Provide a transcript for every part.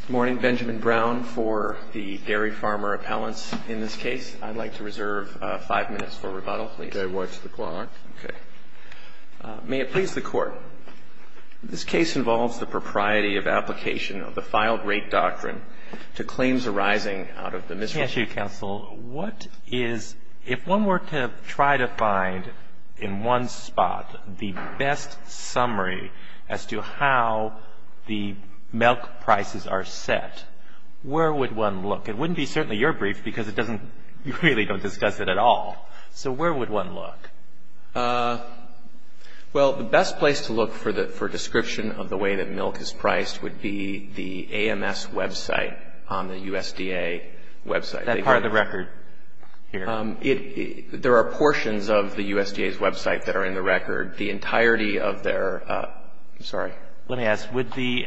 Good morning. Benjamin Brown for the Dairy Farmer Appellants. In this case, I'd like to reserve five minutes for rebuttal, please. Go ahead to the clock. Okay. May it please the Court, this case involves the propriety of application of the filed-rate doctrine to claims arising out of the misrepresentation. Thank you, Counsel. What is, if one were to try to find in one spot the best summary as to how the milk prices are set, where would one look? It wouldn't be certainly your brief because it doesn't, you really don't discuss it at all. So where would one look? Well, the best place to look for description of the way that milk is priced would be the AMS website on the USDA website. That part of the record here? There are portions of the USDA's website that are in the record. The entirety of their, I'm sorry. Let me ask, would the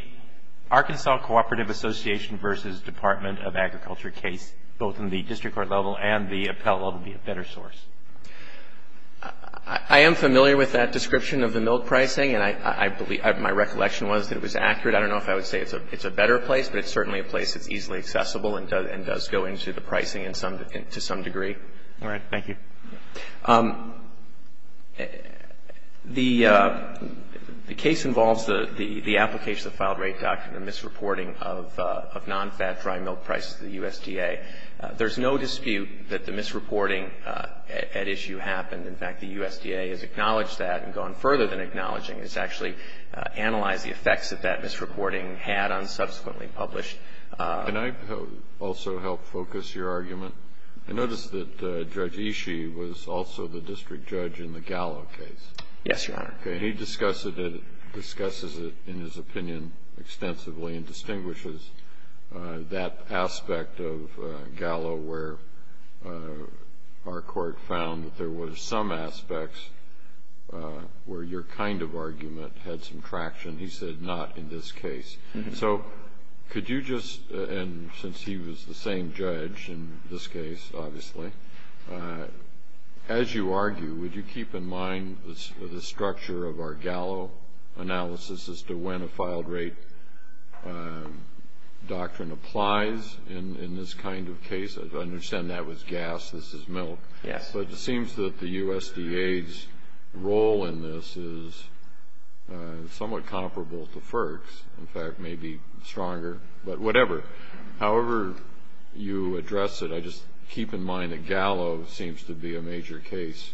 Arkansas Cooperative Association v. Department of Agriculture case, both in the district court level and the appellate level, be a better source? I am familiar with that description of the milk pricing, and I believe, my recollection was that it was accurate. I don't know if I would say it's a better place, but it's certainly a place that's easily accessible and does go into the pricing to some degree. All right. Thank you. The case involves the application of the filed-rate doctrine, the misreporting of nonfat dry milk prices to the USDA. There's no dispute that the misreporting at issue happened. In fact, the USDA has acknowledged that and gone further than acknowledging. It's actually analyzed the effects that that misreporting had on subsequently published. Can I also help focus your argument? I noticed that Judge Ishii was also the district judge in the Gallo case. Yes, Your Honor. He discusses it in his opinion extensively and distinguishes that aspect of Gallo where our court found that there were some aspects where your kind of argument had some traction. He said not in this case. So could you just, and since he was the same judge in this case, obviously, as you argue, would you keep in mind the structure of our Gallo analysis as to when a filed-rate doctrine applies in this kind of case? I understand that was gas, this is milk. Yes. It seems that the USDA's role in this is somewhat comparable to FERC's. In fact, maybe stronger, but whatever. However you address it, I just keep in mind that Gallo seems to be a major case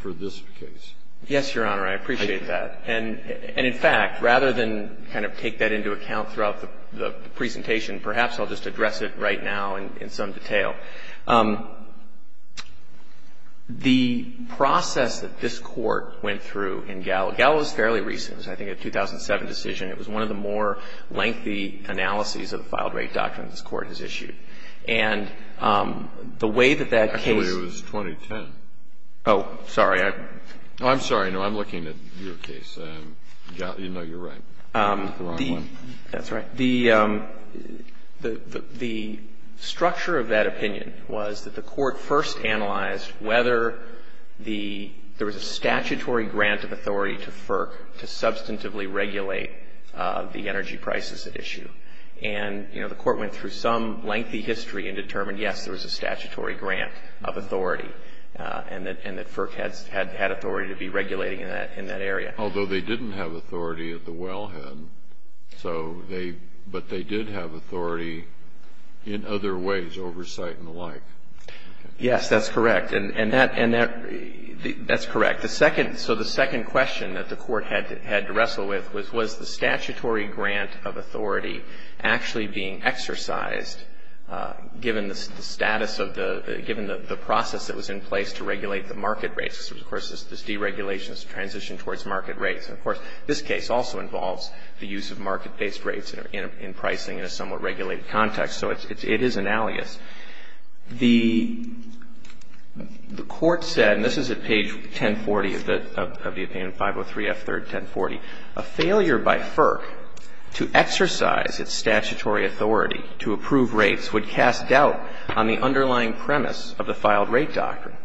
for this case. Yes, Your Honor. I appreciate that. And in fact, rather than kind of take that into account throughout the presentation, perhaps I'll just address it right now in some detail. The process that this Court went through in Gallo, Gallo was fairly recent. It was, I think, a 2007 decision. It was one of the more lengthy analyses of the filed-rate doctrine this Court has issued. And the way that that case was. Actually, it was 2010. Oh, sorry. I'm sorry. No, I'm looking at your case. No, you're right. The wrong one. That's right. The structure of that opinion was that the Court first analyzed whether there was a statutory grant of authority to FERC to substantively regulate the energy prices at issue. And, you know, the Court went through some lengthy history and determined, yes, there was a statutory grant of authority and that FERC had authority to be regulating in that area. Although they didn't have authority at the wellhead. So they, but they did have authority in other ways, oversight and the like. Yes, that's correct. And that, that's correct. The second, so the second question that the Court had to wrestle with was, was the statutory grant of authority actually being exercised given the status of the, given the process that was in place to regulate the market rates? Of course, this deregulation is a transition towards market rates. And, of course, this case also involves the use of market-based rates in pricing in a somewhat regulated context. So it's, it is an alias. The Court said, and this is at page 1040 of the, of the opinion, 503F3, 1040, a failure by FERC to exercise its statutory authority to approve rates would cast doubt on the underlying premise of the filed rate doctrine.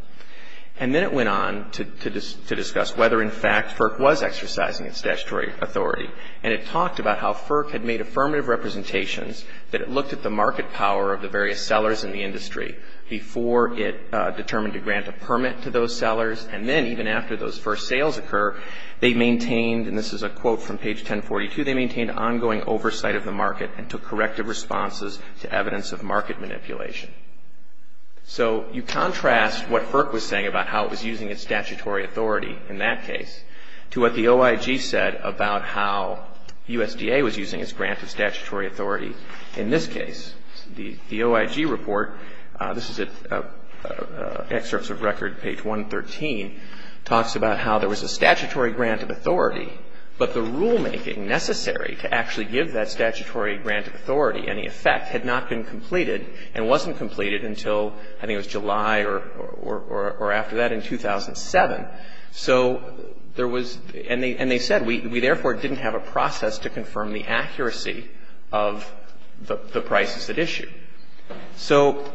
And then it went on to, to discuss whether in fact FERC was exercising its statutory authority. And it talked about how FERC had made affirmative representations that it looked at the market power of the various sellers in the industry before it determined to grant a permit to those sellers. And then even after those first sales occur, they maintained, and this is a quote from page 1042, they maintained ongoing oversight of the market and took corrective responses to evidence of market manipulation. So you contrast what FERC was saying about how it was using its statutory authority in that case to what the OIG said about how USDA was using its grant of statutory authority in this case. The, the OIG report, this is at excerpts of record, page 113, talks about how there was a statutory grant of authority, but the rulemaking necessary to actually give that statutory grant of authority any effect had not been completed and wasn't completed until, I think it was July or, or, or after that in 2007. So there was, and they, and they said we, we therefore didn't have a process to confirm the accuracy of the, the prices at issue. So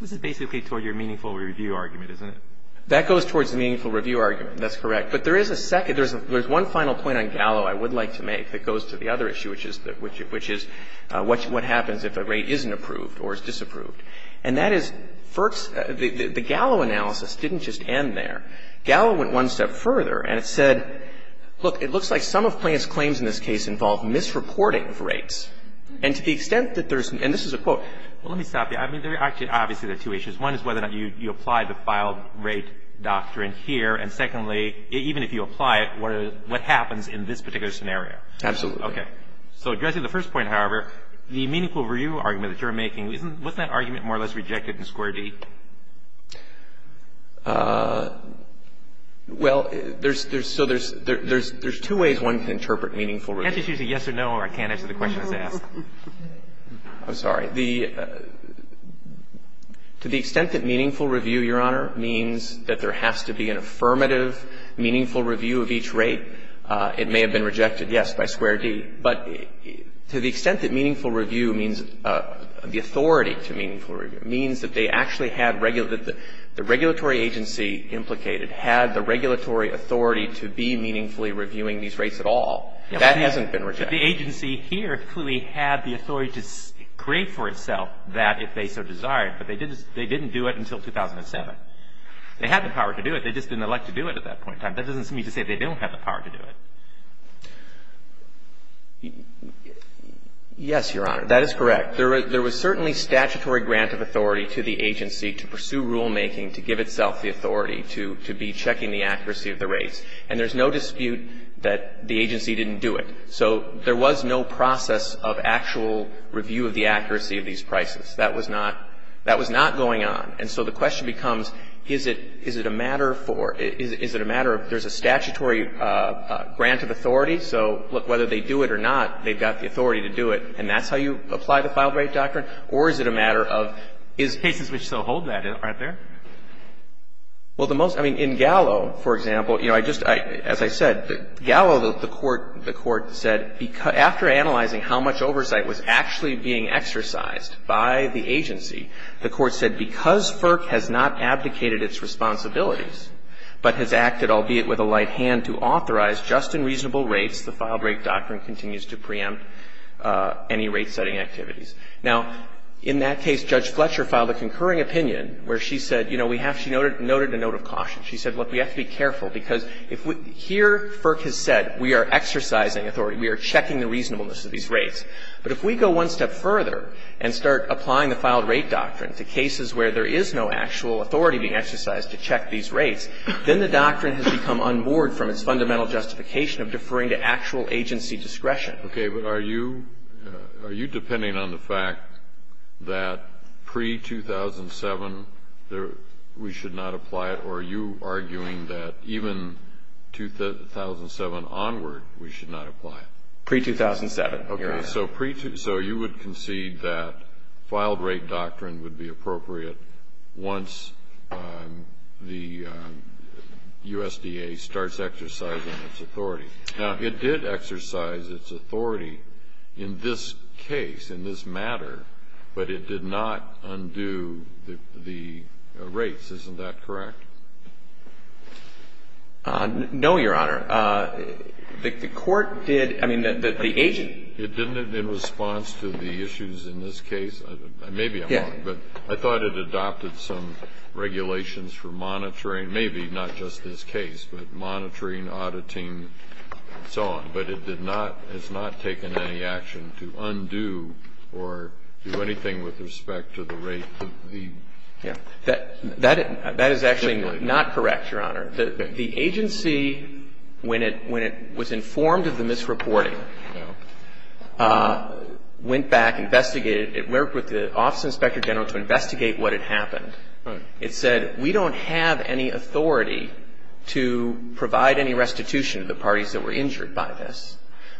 this is basically toward your meaningful review argument, isn't it? That goes towards the meaningful review argument. That's correct. But there is a second, there's a, there's one final point on Gallo I would like to make that goes to the other issue, which is, which, which is what, what happens if a rate isn't approved or is disapproved. And that is FERC's, the, the Gallo analysis didn't just end there. Gallo went one step further and it said, look, it looks like some of Plante's claims in this case involve misreporting of rates. And to the extent that there's, and this is a quote. Well, let me stop you. I mean, there are actually, obviously there are two issues. One is whether or not you, you apply the file rate doctrine here. And secondly, even if you apply it, what, what happens in this particular scenario? Absolutely. Okay. So addressing the first point, however, the meaningful review argument that you're making, isn't, wasn't that argument more or less rejected in square D? Well, there's, there's, so there's, there's, there's two ways one can interpret meaningful review. You can't just use a yes or no or I can't answer the questions asked. I'm sorry. The, to the extent that meaningful review, Your Honor, means that there has to be an affirmative meaningful review of each rate, it may have been rejected, yes, by square D. But to the extent that meaningful review means, the authority to meaningful review, means that they actually had, that the regulatory agency implicated had the regulatory authority to be meaningfully reviewing these rates at all. That hasn't been rejected. But the agency here clearly had the authority to create for itself that if they so desired. But they didn't, they didn't do it until 2007. They had the power to do it. They just didn't elect to do it at that point in time. That doesn't mean to say they don't have the power to do it. Yes, Your Honor. That is correct. There was certainly statutory grant of authority to the agency to pursue rulemaking, to give itself the authority to, to be checking the accuracy of the rates. And there's no dispute that the agency didn't do it. So there was no process of actual review of the accuracy of these prices. That was not, that was not going on. And so the question becomes, is it, is it a matter for, is it a matter of, there's a statutory grant of authority. So whether they do it or not, they've got the authority to do it. And that's how you apply the Filed Rate Doctrine? Or is it a matter of, is. Cases which still hold that, aren't there? Well, the most, I mean, in Gallo, for example, you know, I just, as I said, Gallo, the Court, the Court said, after analyzing how much oversight was actually being exercised by the agency, the Court said because FERC has not abdicated its responsibilities but has acted, albeit with a light hand, to authorize just and reasonable rates, the Filed Rate Doctrine continues to preempt any rate-setting activities. Now, in that case, Judge Fletcher filed a concurring opinion where she said, you know, She said, look, we have to be careful because if we, here FERC has said we are exercising authority, we are checking the reasonableness of these rates. But if we go one step further and start applying the Filed Rate Doctrine to cases where there is no actual authority being exercised to check these rates, then the doctrine has become unmoored from its fundamental justification of deferring to actual agency discretion. Okay, but are you, are you depending on the fact that pre-2007 we should not apply it or are you arguing that even 2007 onward we should not apply it? Pre-2007. Okay. So you would concede that Filed Rate Doctrine would be appropriate once the USDA starts exercising its authority. Now, it did exercise its authority in this case, in this matter, but it did not undo the rates. Isn't that correct? No, Your Honor. The Court did, I mean, the agency. It didn't in response to the issues in this case? Maybe it won't. Yeah. But I thought it adopted some regulations for monitoring, maybe not just this case, but monitoring, auditing, and so on. But it did not, has not taken any action to undo or do anything with respect to the rate that the. Yeah. That is actually not correct, Your Honor. The agency, when it was informed of the misreporting, went back, investigated. It worked with the Office of the Inspector General to investigate what had happened. Right. It said, we don't have any authority to provide any restitution to the parties that were injured by this,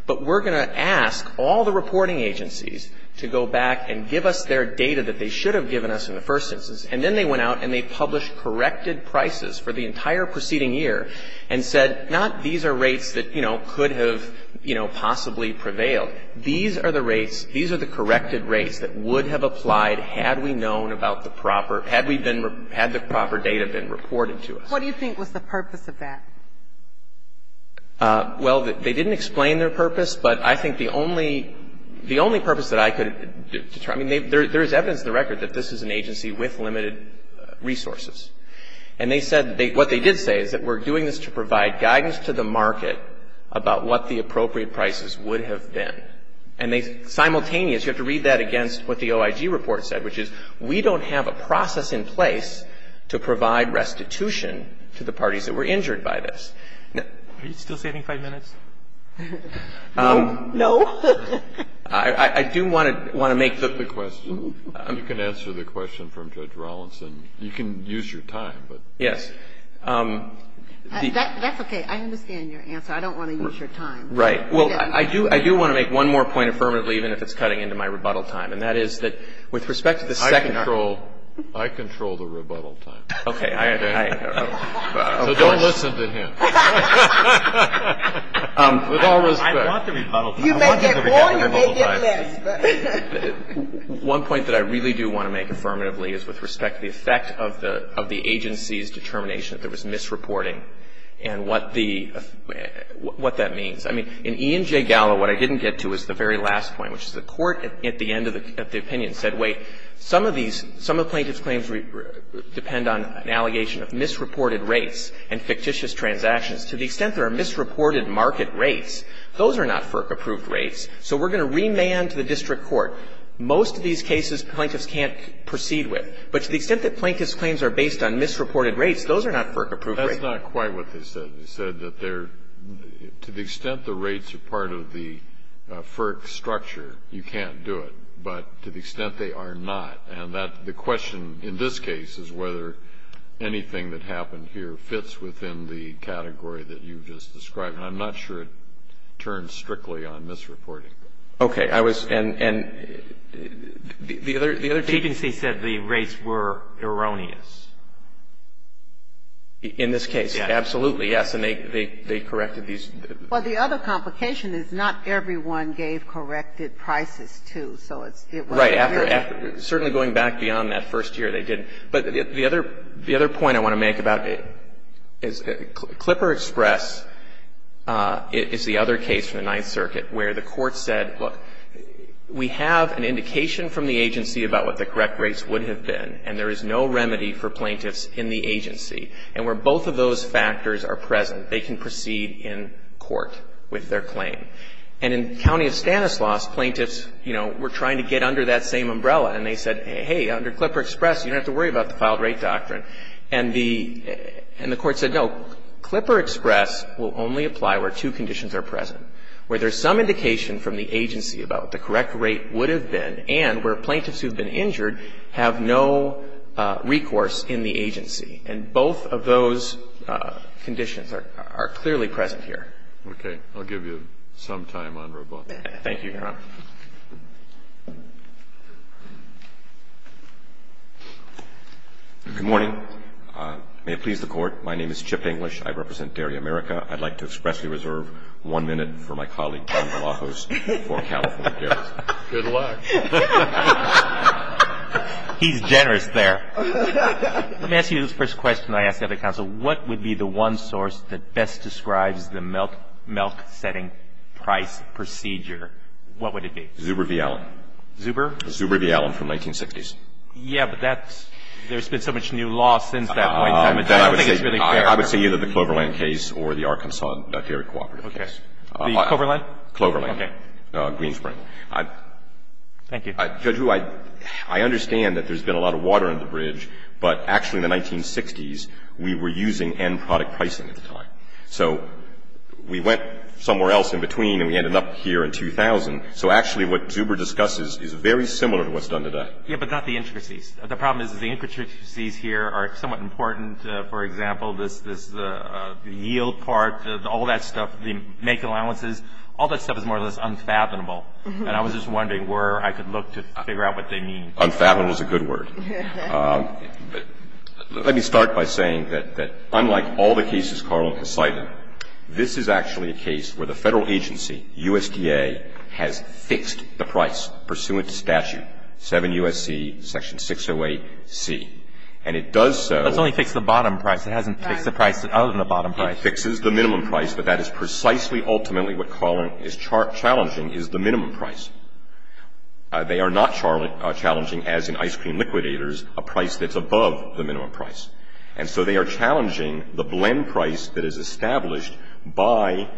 but we're going to ask all the reporting agencies to go back and give us their data that they should have given us in the first instance. And then they went out and they published corrected prices for the entire preceding year and said, not these are rates that, you know, could have, you know, possibly prevailed. These are the rates, these are the corrected rates that would have applied had we known about the proper, had we been, had the proper data been reported to us. What do you think was the purpose of that? Well, they didn't explain their purpose, but I think the only, the only purpose that I could determine, I mean, there is evidence in the record that this is an agency with limited resources. And they said, what they did say is that we're doing this to provide guidance to the market about what the appropriate prices would have been. And they simultaneously, you have to read that against what the OIG report said, which is we don't have a process in place to provide restitution to the parties that were injured by this. Are you still saving five minutes? No. I do want to make the question. You can answer the question from Judge Rawlinson. You can use your time. Yes. That's okay. I understand your answer. I don't want to use your time. Right. Well, I do want to make one more point affirmatively, even if it's cutting into my rebuttal time, and that is that with respect to the second. I control the rebuttal time. Okay. So don't listen to him. With all respect. I want the rebuttal time. You may get more, you may get less. One point that I really do want to make affirmatively is with respect to the effect of the agency's determination that there was misreporting and what the, what that means. I mean, in E and J Gallo, what I didn't get to is the very last point, which is the court at the end of the opinion said, wait, some of these, some of the plaintiff's claims depend on an allegation of misreported rates and fictitious transactions. To the extent there are misreported market rates, those are not FERC-approved rates, so we're going to remand to the district court. Most of these cases, plaintiffs can't proceed with. But to the extent that plaintiff's claims are based on misreported rates, those are not FERC-approved rates. That's not quite what they said. They said that they're, to the extent the rates are part of the FERC structure, you can't do it. But to the extent they are not, and that, the question in this case is whether anything that happened here fits within the category that you've just described. And I'm not sure it turns strictly on misreporting. Okay. I was, and, and, the other, the other thing. The agency said the rates were erroneous. In this case, absolutely, yes. And they, they, they corrected these. Well, the other complication is not everyone gave corrected prices, too. So it's, it was. Right. After, after, certainly going back beyond that first year, they didn't. But the other, the other point I want to make about it is Clipper Express is the other case from the Ninth Circuit where the court said, look, we have an indication from the agency about what the correct rates would have been. And there is no remedy for plaintiffs in the agency. And where both of those factors are present, they can proceed in court with their claim. And in County of Stanislaus, plaintiffs, you know, were trying to get under that same umbrella. And they said, hey, under Clipper Express, you don't have to worry about the filed rate doctrine. And the, and the court said, no, Clipper Express will only apply where two conditions are present. Where there's some indication from the agency about what the correct rate would have been, and where plaintiffs who have been injured have no recourse in the agency. And both of those conditions are, are clearly present here. Okay. I'll give you some time on Roboto. Thank you, Your Honor. Good morning. May it please the Court. My name is Chip English. I represent Dairy America. I'd like to expressly reserve one minute for my colleague, Ben Galapagos, for California Dairy. Good luck. He's generous there. Let me ask you this first question I ask the other counsel. What would be the one source that best describes the milk setting price procedure? What would it be? Zuber v. Allen. Zuber? Zuber v. Allen from 1960s. Yeah, but that's, there's been so much new law since that point. I don't think it's really fair. I would say either the Cloverland case or the Arkansas dairy cooperative case. Okay. The Cloverland? Cloverland. Okay. Greenspring. Thank you. Judge Wu, I understand that there's been a lot of water in the bridge, but actually in the 1960s, we were using end product pricing at the time. So we went somewhere else in between and we ended up here in 2000. So actually what Zuber discusses is very similar to what's done today. Yeah, but not the intricacies. The problem is the intricacies here are somewhat important. For example, this yield part, all that stuff, the make allowances, all that stuff is more or less unfathomable. And I was just wondering where I could look to figure out what they mean. Unfathomable is a good word. Let me start by saying that unlike all the cases Carla has cited, this is actually a case where the Federal agency, USDA, has fixed the price pursuant to statute, 7 U.S.C. section 608C. And it does so. It's only fixed the bottom price. It hasn't fixed the price other than the bottom price. It fixes the minimum price, but that is precisely ultimately what Carla is challenging is the minimum price. They are not challenging, as in ice cream liquidators, a price that's above the minimum price. And so they are challenging the blend price that is established by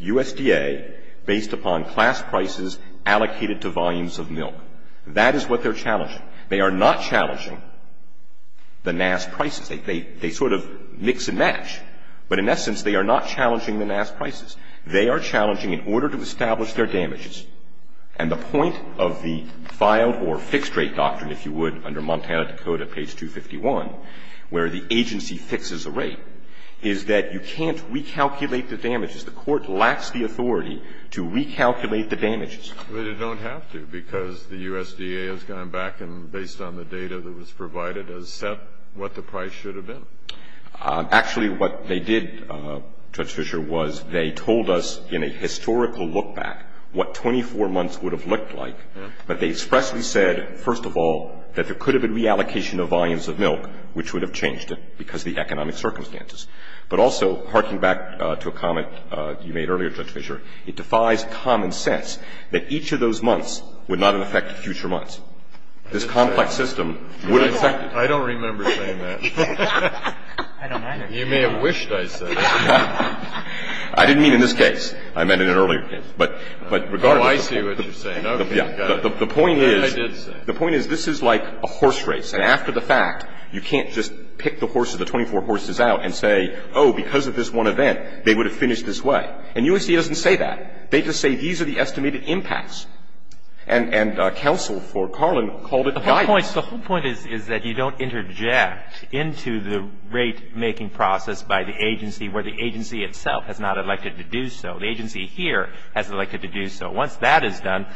USDA based upon class prices allocated to volumes of milk. That is what they're challenging. They are not challenging the NAS prices. They sort of mix and match. But in essence, they are not challenging the NAS prices. They are challenging in order to establish their damages. And the point of the filed or fixed rate doctrine, if you would, under Montana Dakota, page 251, where the agency fixes a rate, is that you can't recalculate the damages. The court lacks the authority to recalculate the damages. But it don't have to because the USDA has gone back and based on the data that was provided has set what the price should have been. Actually, what they did, Judge Fischer, was they told us in a historical look back what 24 months would have looked like. But they expressly said, first of all, that there could have been reallocation of volumes of milk, which would have changed it because of the economic circumstances. But also, harking back to a comment you made earlier, Judge Fischer, it defies common sense that each of those months would not have affected future months. This complex system would have affected future months. I don't either. You may have wished I said that. I didn't mean in this case. I meant in an earlier case. But regardless of the point. Oh, I see what you're saying. The point is, the point is this is like a horse race. And after the fact, you can't just pick the horse or the 24 horses out and say, oh, because of this one event, they would have finished this way. And USDA doesn't say that. They just say these are the estimated impacts. And counsel for Carlin called it guidance. The whole point is that you don't interject into the rate-making process by the agency where the agency itself has not elected to do so. The agency here has elected to do so. Once that is done,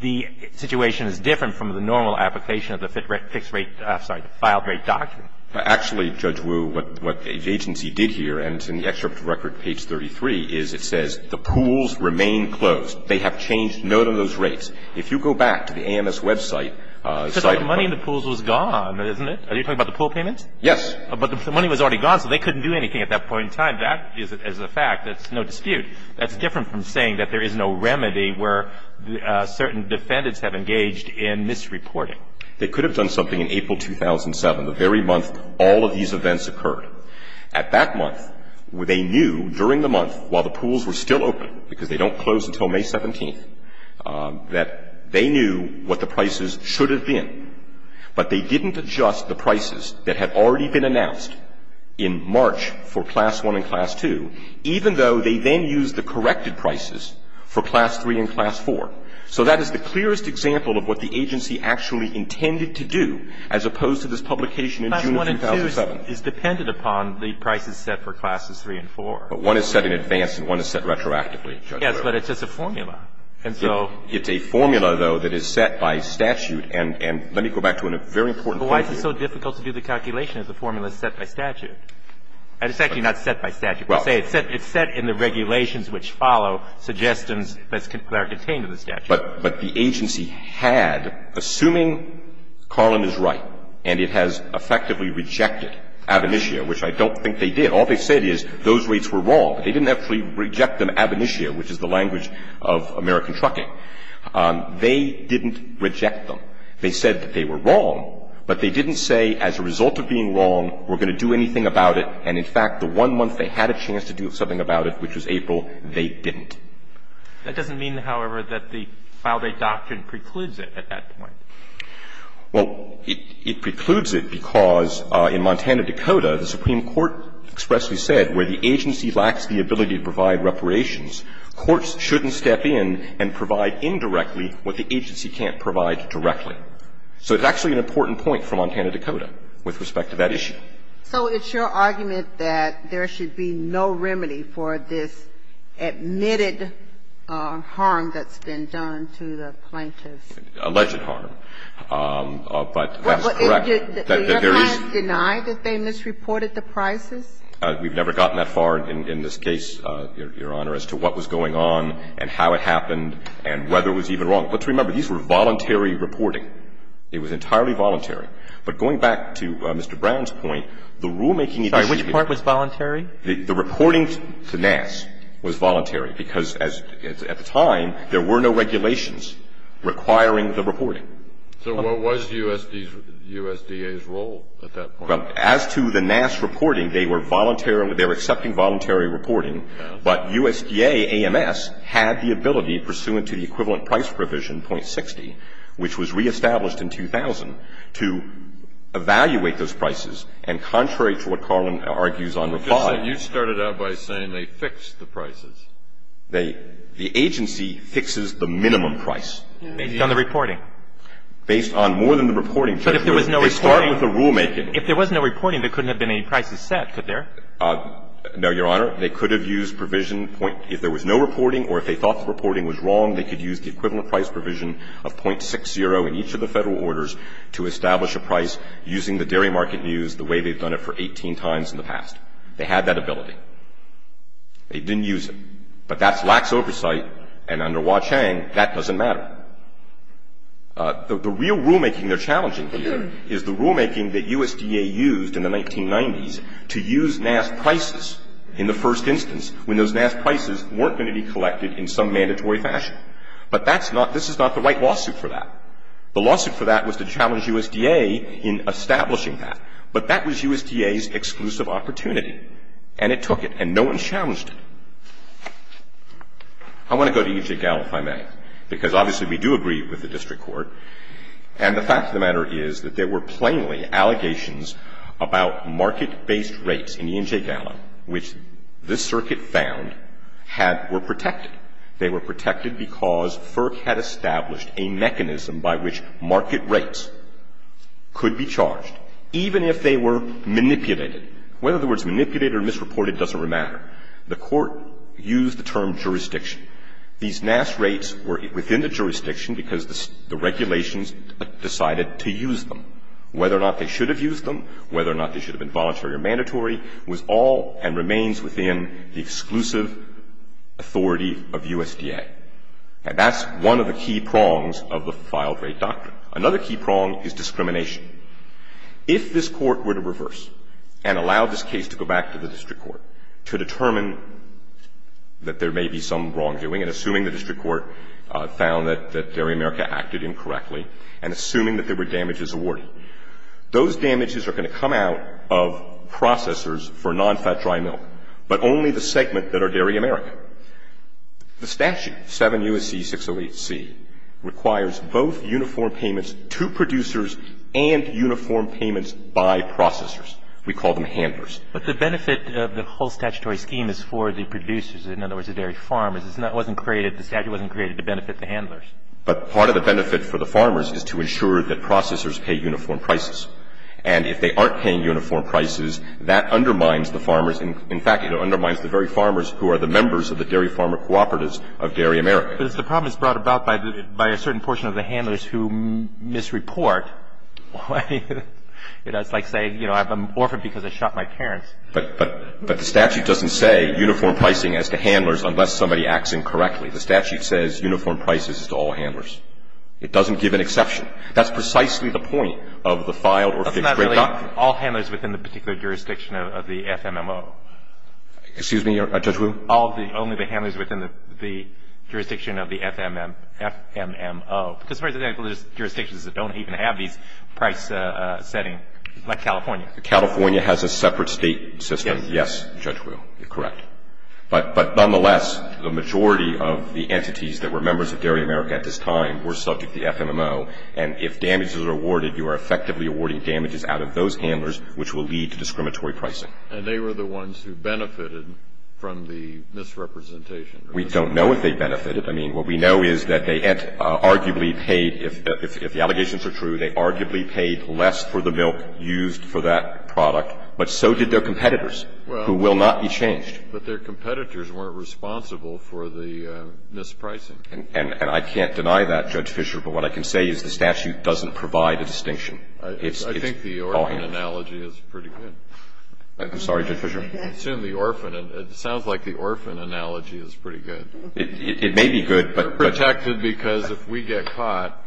the situation is different from the normal application of the fixed rate, sorry, the filed rate document. Actually, Judge Wu, what the agency did here, and it's in the excerpt of record, page 33, is it says the pools remain closed. They have changed none of those rates. If you go back to the AMS website. Because all the money in the pools was gone, isn't it? Are you talking about the pool payments? Yes. But the money was already gone, so they couldn't do anything at that point in time. That is a fact. That's no dispute. That's different from saying that there is no remedy where certain defendants have engaged in misreporting. They could have done something in April 2007, the very month all of these events occurred. At that month, they knew during the month while the pools were still open, because they don't close until May 17th, that they knew what the prices should have been, but they didn't adjust the prices that had already been announced in March for Class 1 and Class 2, even though they then used the corrected prices for Class 3 and Class 4. So that is the clearest example of what the agency actually intended to do as opposed to this publication in June 2007. Class 1 and 2 is dependent upon the prices set for Classes 3 and 4. But one is set in advance and one is set retroactively. Yes, but it's just a formula. And so — It's a formula, though, that is set by statute. And let me go back to a very important point here. But why is it so difficult to do the calculation if the formula is set by statute? It's actually not set by statute. It's set in the regulations which follow suggestions that are contained in the statute. But the agency had, assuming Carlin is right and it has effectively rejected Ab initio, which I don't think they did, all they said is those rates were wrong. They didn't actually reject them ab initio, which is the language of American trucking. They didn't reject them. They said that they were wrong, but they didn't say as a result of being wrong we're going to do anything about it. And, in fact, the one month they had a chance to do something about it, which was April, they didn't. That doesn't mean, however, that the file date doctrine precludes it at that point. Well, it precludes it because in Montana, Dakota, the Supreme Court expressly said where the agency lacks the ability to provide reparations, courts shouldn't step in and provide indirectly what the agency can't provide directly. So it's actually an important point for Montana, Dakota, with respect to that issue. So it's your argument that there should be no remedy for this admitted harm that's been done to the plaintiffs? Alleged harm. But that's correct. You haven't denied that they misreported the prices? We've never gotten that far in this case, Your Honor, as to what was going on and how it happened and whether it was even wrong. Let's remember, these were voluntary reporting. It was entirely voluntary. But going back to Mr. Brown's point, the rulemaking issues have been voluntary. Sorry. Which part was voluntary? The reporting to Nass was voluntary because at the time there were no regulations requiring the reporting. So what was USDA's role at that point? Well, as to the Nass reporting, they were accepting voluntary reporting. But USDA, AMS, had the ability, pursuant to the equivalent price provision, .60, which was reestablished in 2000, to evaluate those prices. And contrary to what Carlin argues on reply. You started out by saying they fixed the prices. The agency fixes the minimum price. Based on the reporting. Based on more than the reporting. But if there was no reporting. They start with the rulemaking. If there was no reporting, there couldn't have been any prices set, could there? No, Your Honor. They could have used provision. If there was no reporting or if they thought the reporting was wrong, they could use the equivalent price provision of .60 in each of the Federal orders to establish a price using the dairy market news the way they've done it for 18 times in the past. They had that ability. They didn't use it. But that's lax oversight. And under Hua Chang, that doesn't matter. The real rulemaking they're challenging here is the rulemaking that USDA used in the 1990s to use NAS prices in the first instance when those NAS prices weren't going to be collected in some mandatory fashion. But that's not the right lawsuit for that. The lawsuit for that was to challenge USDA in establishing that. But that was USDA's exclusive opportunity. And it took it. And no one challenged it. I want to go to E&J Gallo, if I may, because obviously we do agree with the district court. And the fact of the matter is that there were plainly allegations about market-based rates in E&J Gallo, which this circuit found were protected. They were protected because FERC had established a mechanism by which market rates could be charged, even if they were manipulated. In other words, manipulated or misreported doesn't really matter. The court used the term jurisdiction. These NAS rates were within the jurisdiction because the regulations decided to use them. Whether or not they should have used them, whether or not they should have been voluntary or mandatory was all and remains within the exclusive authority of USDA. And that's one of the key prongs of the filed rate doctrine. Another key prong is discrimination. If this court were to reverse and allow this case to go back to the district court to determine that there may be some wrongdoing, and assuming the district court found that Dairy America acted incorrectly, and assuming that there were damages awarded, those damages are going to come out of processors for nonfat dry milk, but only the segment that are Dairy America. The statute, 7 U.S.C. 608C, requires both uniform payments to producers and to uniform payments by processors. We call them handlers. But the benefit of the whole statutory scheme is for the producers, in other words, the dairy farmers. It wasn't created, the statute wasn't created to benefit the handlers. But part of the benefit for the farmers is to ensure that processors pay uniform prices. And if they aren't paying uniform prices, that undermines the farmers. In fact, it undermines the very farmers who are the members of the dairy farmer cooperatives of Dairy America. But if the problem is brought about by a certain portion of the handlers who misreport, it's like saying, you know, I'm an orphan because I shot my parents. But the statute doesn't say uniform pricing as to handlers unless somebody acts incorrectly. The statute says uniform prices to all handlers. It doesn't give an exception. That's precisely the point of the filed or fixed rate doctrine. That's not really all handlers within the particular jurisdiction of the FMMO. Excuse me, Judge Wu? Only the handlers within the jurisdiction of the FMMO. Because there are jurisdictions that don't even have these price settings, like California. California has a separate state system. Yes. Yes, Judge Wu, you're correct. But nonetheless, the majority of the entities that were members of Dairy America at this time were subject to the FMMO. And if damages are awarded, you are effectively awarding damages out of those handlers, which will lead to discriminatory pricing. And they were the ones who benefited from the misrepresentation. We don't know if they benefited. I mean, what we know is that they arguably paid, if the allegations are true, they arguably paid less for the milk used for that product, but so did their competitors, who will not be changed. But their competitors weren't responsible for the mispricing. And I can't deny that, Judge Fischer. But what I can say is the statute doesn't provide a distinction. It's all handlers. I think the orphan analogy is pretty good. I'm sorry, Judge Fischer. I assume the orphan. It sounds like the orphan analogy is pretty good. It may be good, but. We're protected because if we get caught,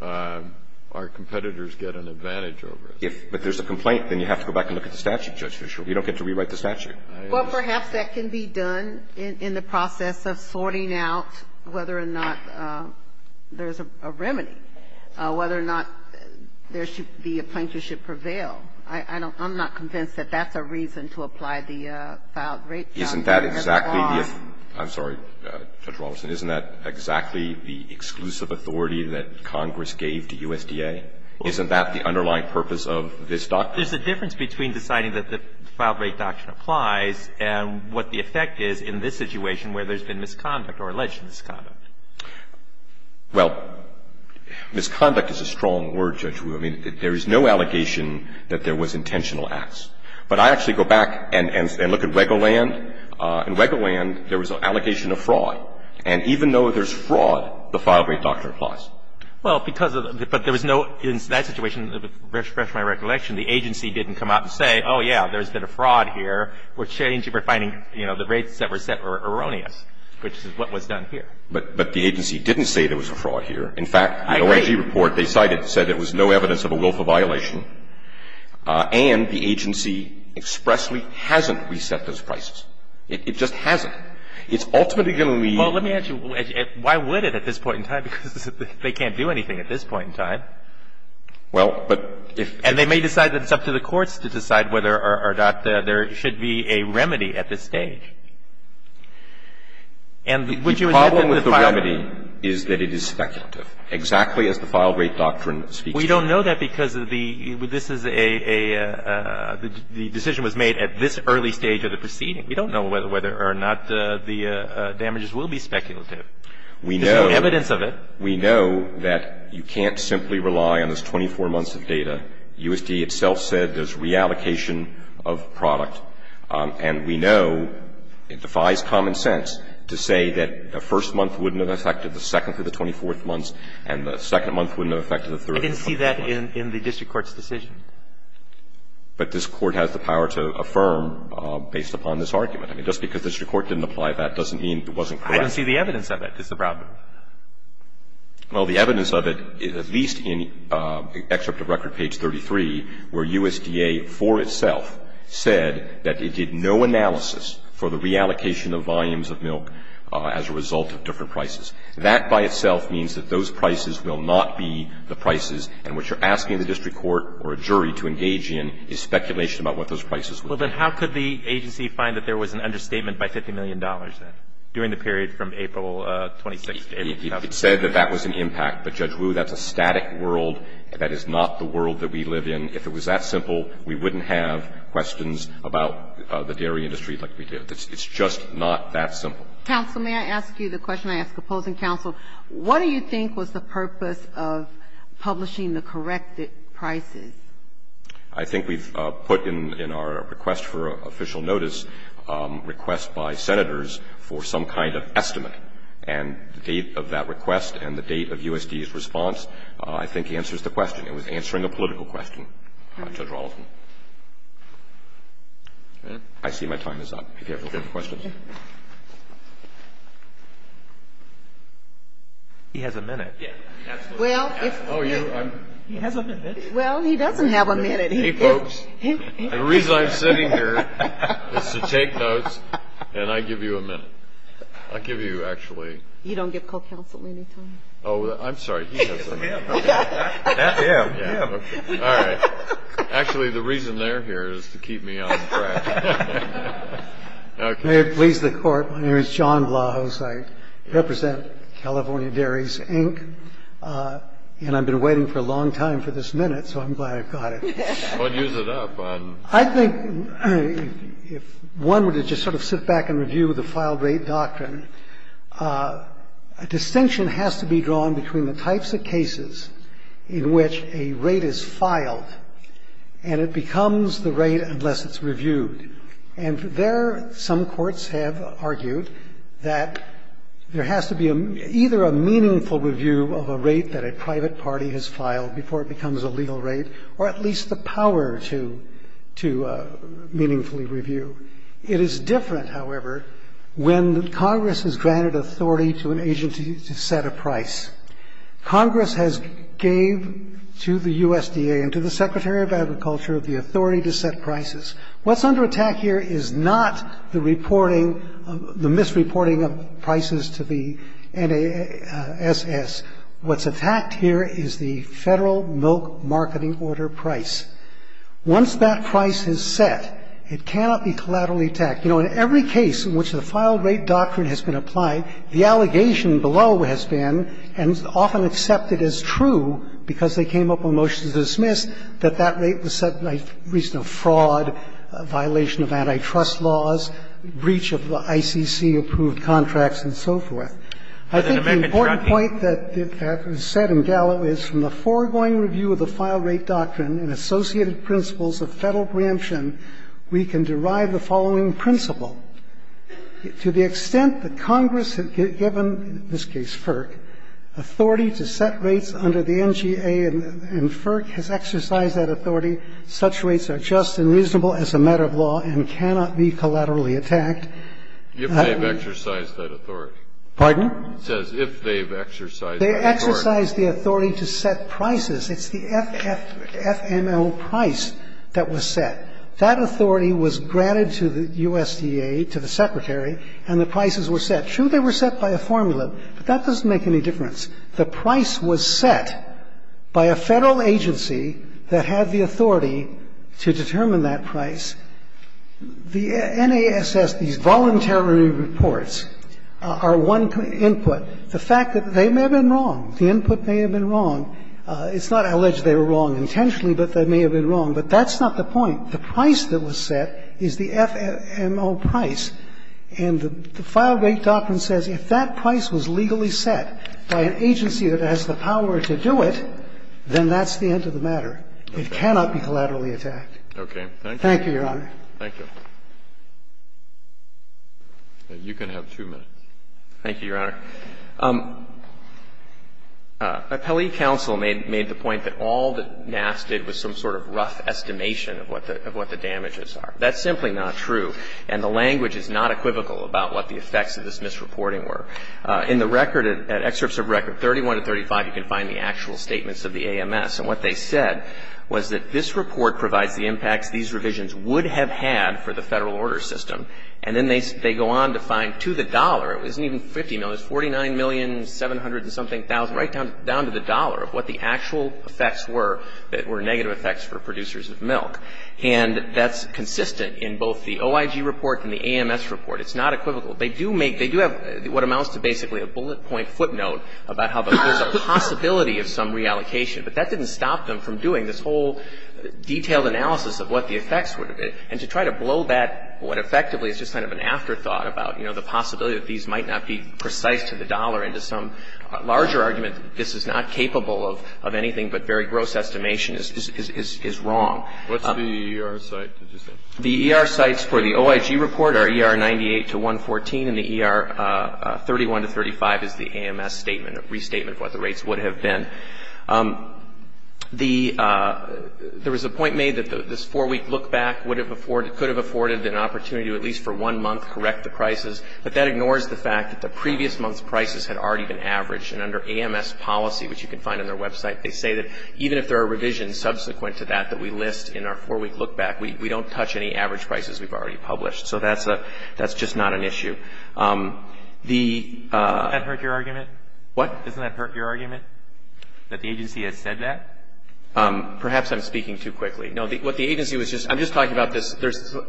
our competitors get an advantage over us. But if there's a complaint, then you have to go back and look at the statute, Judge Fischer. You don't get to rewrite the statute. Well, perhaps that can be done in the process of sorting out whether or not there's a remedy, whether or not there should be a plaintiff should prevail. I'm not convinced that that's a reason to apply the filed rape charge. Isn't that exactly the – I'm sorry, Judge Robertson. Isn't that exactly the exclusive authority that Congress gave to USDA? Isn't that the underlying purpose of this doctrine? There's a difference between deciding that the filed rape doctrine applies and what the effect is in this situation where there's been misconduct or alleged misconduct. Well, misconduct is a strong word, Judge Wu. I mean, there is no allegation that there was intentional acts. But I actually go back and look at Regoland. In Regoland, there was an allegation of fraud. And even though there's fraud, the filed rape doctrine applies. Well, because of the – but there was no – in that situation, to refresh my recollection, the agency didn't come out and say, oh, yeah, there's been a fraud here. We're challenging for finding, you know, the rates that were set were erroneous, which is what was done here. But the agency didn't say there was a fraud here. In fact, the OIG report, they cited, said there was no evidence of a willful violation. And the agency expressly hasn't reset those prices. It just hasn't. It's ultimately going to leave – Well, let me ask you, why would it at this point in time? Because they can't do anything at this point in time. Well, but if – And they may decide that it's up to the courts to decide whether or not there should be a remedy at this stage. And would you admit that the filed – speaks to it. We don't know that because of the – this is a – the decision was made at this early stage of the proceeding. We don't know whether or not the damages will be speculative. There's no evidence of it. We know that you can't simply rely on this 24 months of data. USD itself said there's reallocation of product. And we know it defies common sense to say that the first month wouldn't have affected the second through the 24th months, and the second month wouldn't have affected the third month. I didn't see that in the district court's decision. But this Court has the power to affirm based upon this argument. I mean, just because the district court didn't apply that doesn't mean it wasn't correct. I don't see the evidence of it is the problem. Well, the evidence of it, at least in excerpt of record page 33, where USDA for itself said that it did no analysis for the reallocation of volumes of milk as a result of different prices. That by itself means that those prices will not be the prices. And what you're asking the district court or a jury to engage in is speculation about what those prices will be. Well, then how could the agency find that there was an understatement by $50 million then, during the period from April 26th to April 2000? It said that that was an impact. But, Judge Wu, that's a static world. That is not the world that we live in. If it was that simple, we wouldn't have questions about the dairy industry like we do. It's just not that simple. Counsel, may I ask you the question I ask opposing counsel? What do you think was the purpose of publishing the corrected prices? I think we've put in our request for official notice requests by Senators for some kind of estimate. And the date of that request and the date of USDA's response, I think, answers the question. It was answering a political question, Judge Rollins. I see my time is up. If you have any questions. He has a minute. He has a minute. Well, he doesn't have a minute. Hey, folks. The reason I'm sitting here is to take notes, and I give you a minute. I'll give you, actually. You don't give co-counsel any time. Oh, I'm sorry. He has a minute. Him. Him. Him. All right. Actually, the reason they're here is to keep me on track. May it please the Court. My name is John Blahos. I represent California Dairies, Inc., and I've been waiting for a long time for this minute, so I'm glad I've got it. Well, use it up. I think if one were to just sort of sit back and review the filed rate doctrine, a distinction has to be drawn between the types of cases in which a rate is filed and it becomes the rate unless it's reviewed. And there, some courts have argued that there has to be either a meaningful review of a rate that a private party has filed before it becomes a legal rate or at least the power to meaningfully review. It is different, however, when Congress has granted authority to an agency to set a price. Congress has gave to the USDA and to the Secretary of Agriculture the authority to set prices. What's under attack here is not the reporting, the misreporting of prices to the NASS. What's attacked here is the federal milk marketing order price. Once that price is set, it cannot be collaterally attacked. You know, in every case in which the filed rate doctrine has been applied, the allegation below has been, and is often accepted as true because they came up with motions to dismiss, that that rate was set by reason of fraud, violation of antitrust laws, breach of the ICC-approved contracts, and so forth. I think the important point that was said in Gallo is from the foregoing review of the filed rate doctrine and associated principles of federal preemption, we can derive the following principle. To the extent that Congress had given, in this case FERC, authority to set rates under the NGA and FERC has exercised that authority, such rates are just and reasonable as a matter of law and cannot be collaterally attacked. Kennedy. If they've exercised that authority. Pardon? It says if they've exercised that authority. They exercised the authority to set prices. It's the FML price that was set. That authority was granted to the USDA, to the Secretary, and the prices were set. True, they were set by a formula, but that doesn't make any difference. The price was set by a federal agency that had the authority to determine that price. The NASS, these voluntary reports, are one input. The fact that they may have been wrong, the input may have been wrong. It's not alleged they were wrong intentionally, but they may have been wrong. But that's not the point. The price that was set is the FMO price. And the file rate doctrine says if that price was legally set by an agency that has the power to do it, then that's the end of the matter. It cannot be collaterally attacked. Okay. Thank you, Your Honor. Thank you. You can have two minutes. Thank you, Your Honor. Appellee counsel made the point that all that NASS did was some sort of rough estimation of what the damages are. That's simply not true. And the language is not equivocal about what the effects of this misreporting were. In the record, at excerpts of record 31 to 35, you can find the actual statements of the AMS. And what they said was that this report provides the impacts these revisions would have had for the federal order system. And then they go on to find, to the dollar, it wasn't even $50 million, it was $40 million, $700 and something thousand, right down to the dollar of what the actual effects were that were negative effects for producers of milk. And that's consistent in both the OIG report and the AMS report. It's not equivocal. They do have what amounts to basically a bullet point footnote about how there's a possibility of some reallocation. But that didn't stop them from doing this whole detailed analysis of what the effects would have been. And to try to blow that what effectively is just kind of an afterthought about, you know, the possibility that these might not be precise to the dollar and to some larger argument that this is not capable of anything but very gross estimation is wrong. What's the ER site? The ER sites for the OIG report are ER 98 to 114, and the ER 31 to 35 is the AMS statement, restatement of what the rates would have been. There was a point made that this four-week look-back could have afforded an opportunity to at least for one month correct the prices, but that ignores the fact that the previous month's prices had already been averaged. And under AMS policy, which you can find on their website, they say that even if there are revisions subsequent to that that we list in our four-week look-back, we don't touch any average prices we've already published. So that's just not an issue. Doesn't that hurt your argument? What? Doesn't that hurt your argument that the agency has said that? Perhaps I'm speaking too quickly. I'm just talking about this.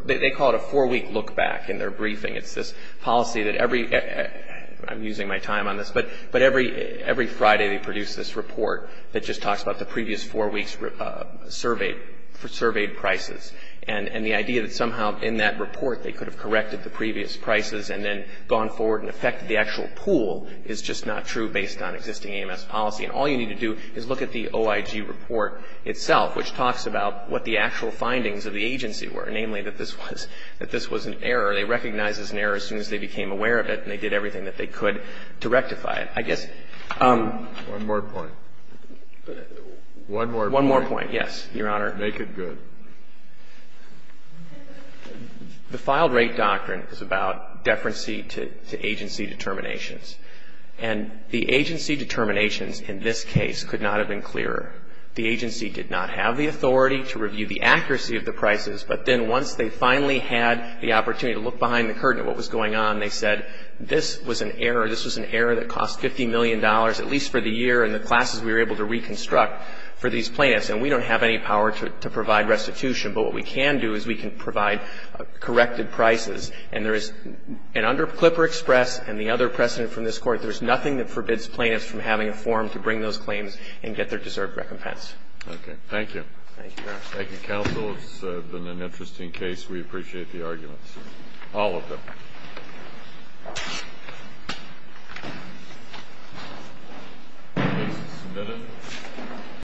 They call it a four-week look-back in their briefing. It's this policy that every Friday they produce this report that just talks about the previous four weeks' surveyed prices. And the idea that somehow in that report they could have corrected the previous prices and then gone forward and affected the actual pool is just not true based on existing AMS policy. And all you need to do is look at the OIG report itself, which talks about what the actual findings of the agency were, namely that this was an error. They recognized it as an error as soon as they became aware of it, and they did everything that they could to rectify it, I guess. One more point. One more point. One more point, yes, Your Honor. Make it good. The filed rate doctrine is about deference to agency determinations. And the agency determinations in this case could not have been clearer. The agency did not have the authority to review the accuracy of the prices, but then once they finally had the opportunity to look behind the curtain at what was going on, they said this was an error. This was an error that cost $50 million, at least for the year and the classes we were able to reconstruct for these plaintiffs, and we don't have any power to provide restitution. But what we can do is we can provide corrected prices. And under Clipper Express and the other precedent from this Court, there's nothing that forbids plaintiffs from having a forum to bring those claims and get their deserved recompense. Okay. Thank you. Thank you, Your Honor. Thank you, counsel. It's been an interesting case. We appreciate the arguments, all of them. Please submit it.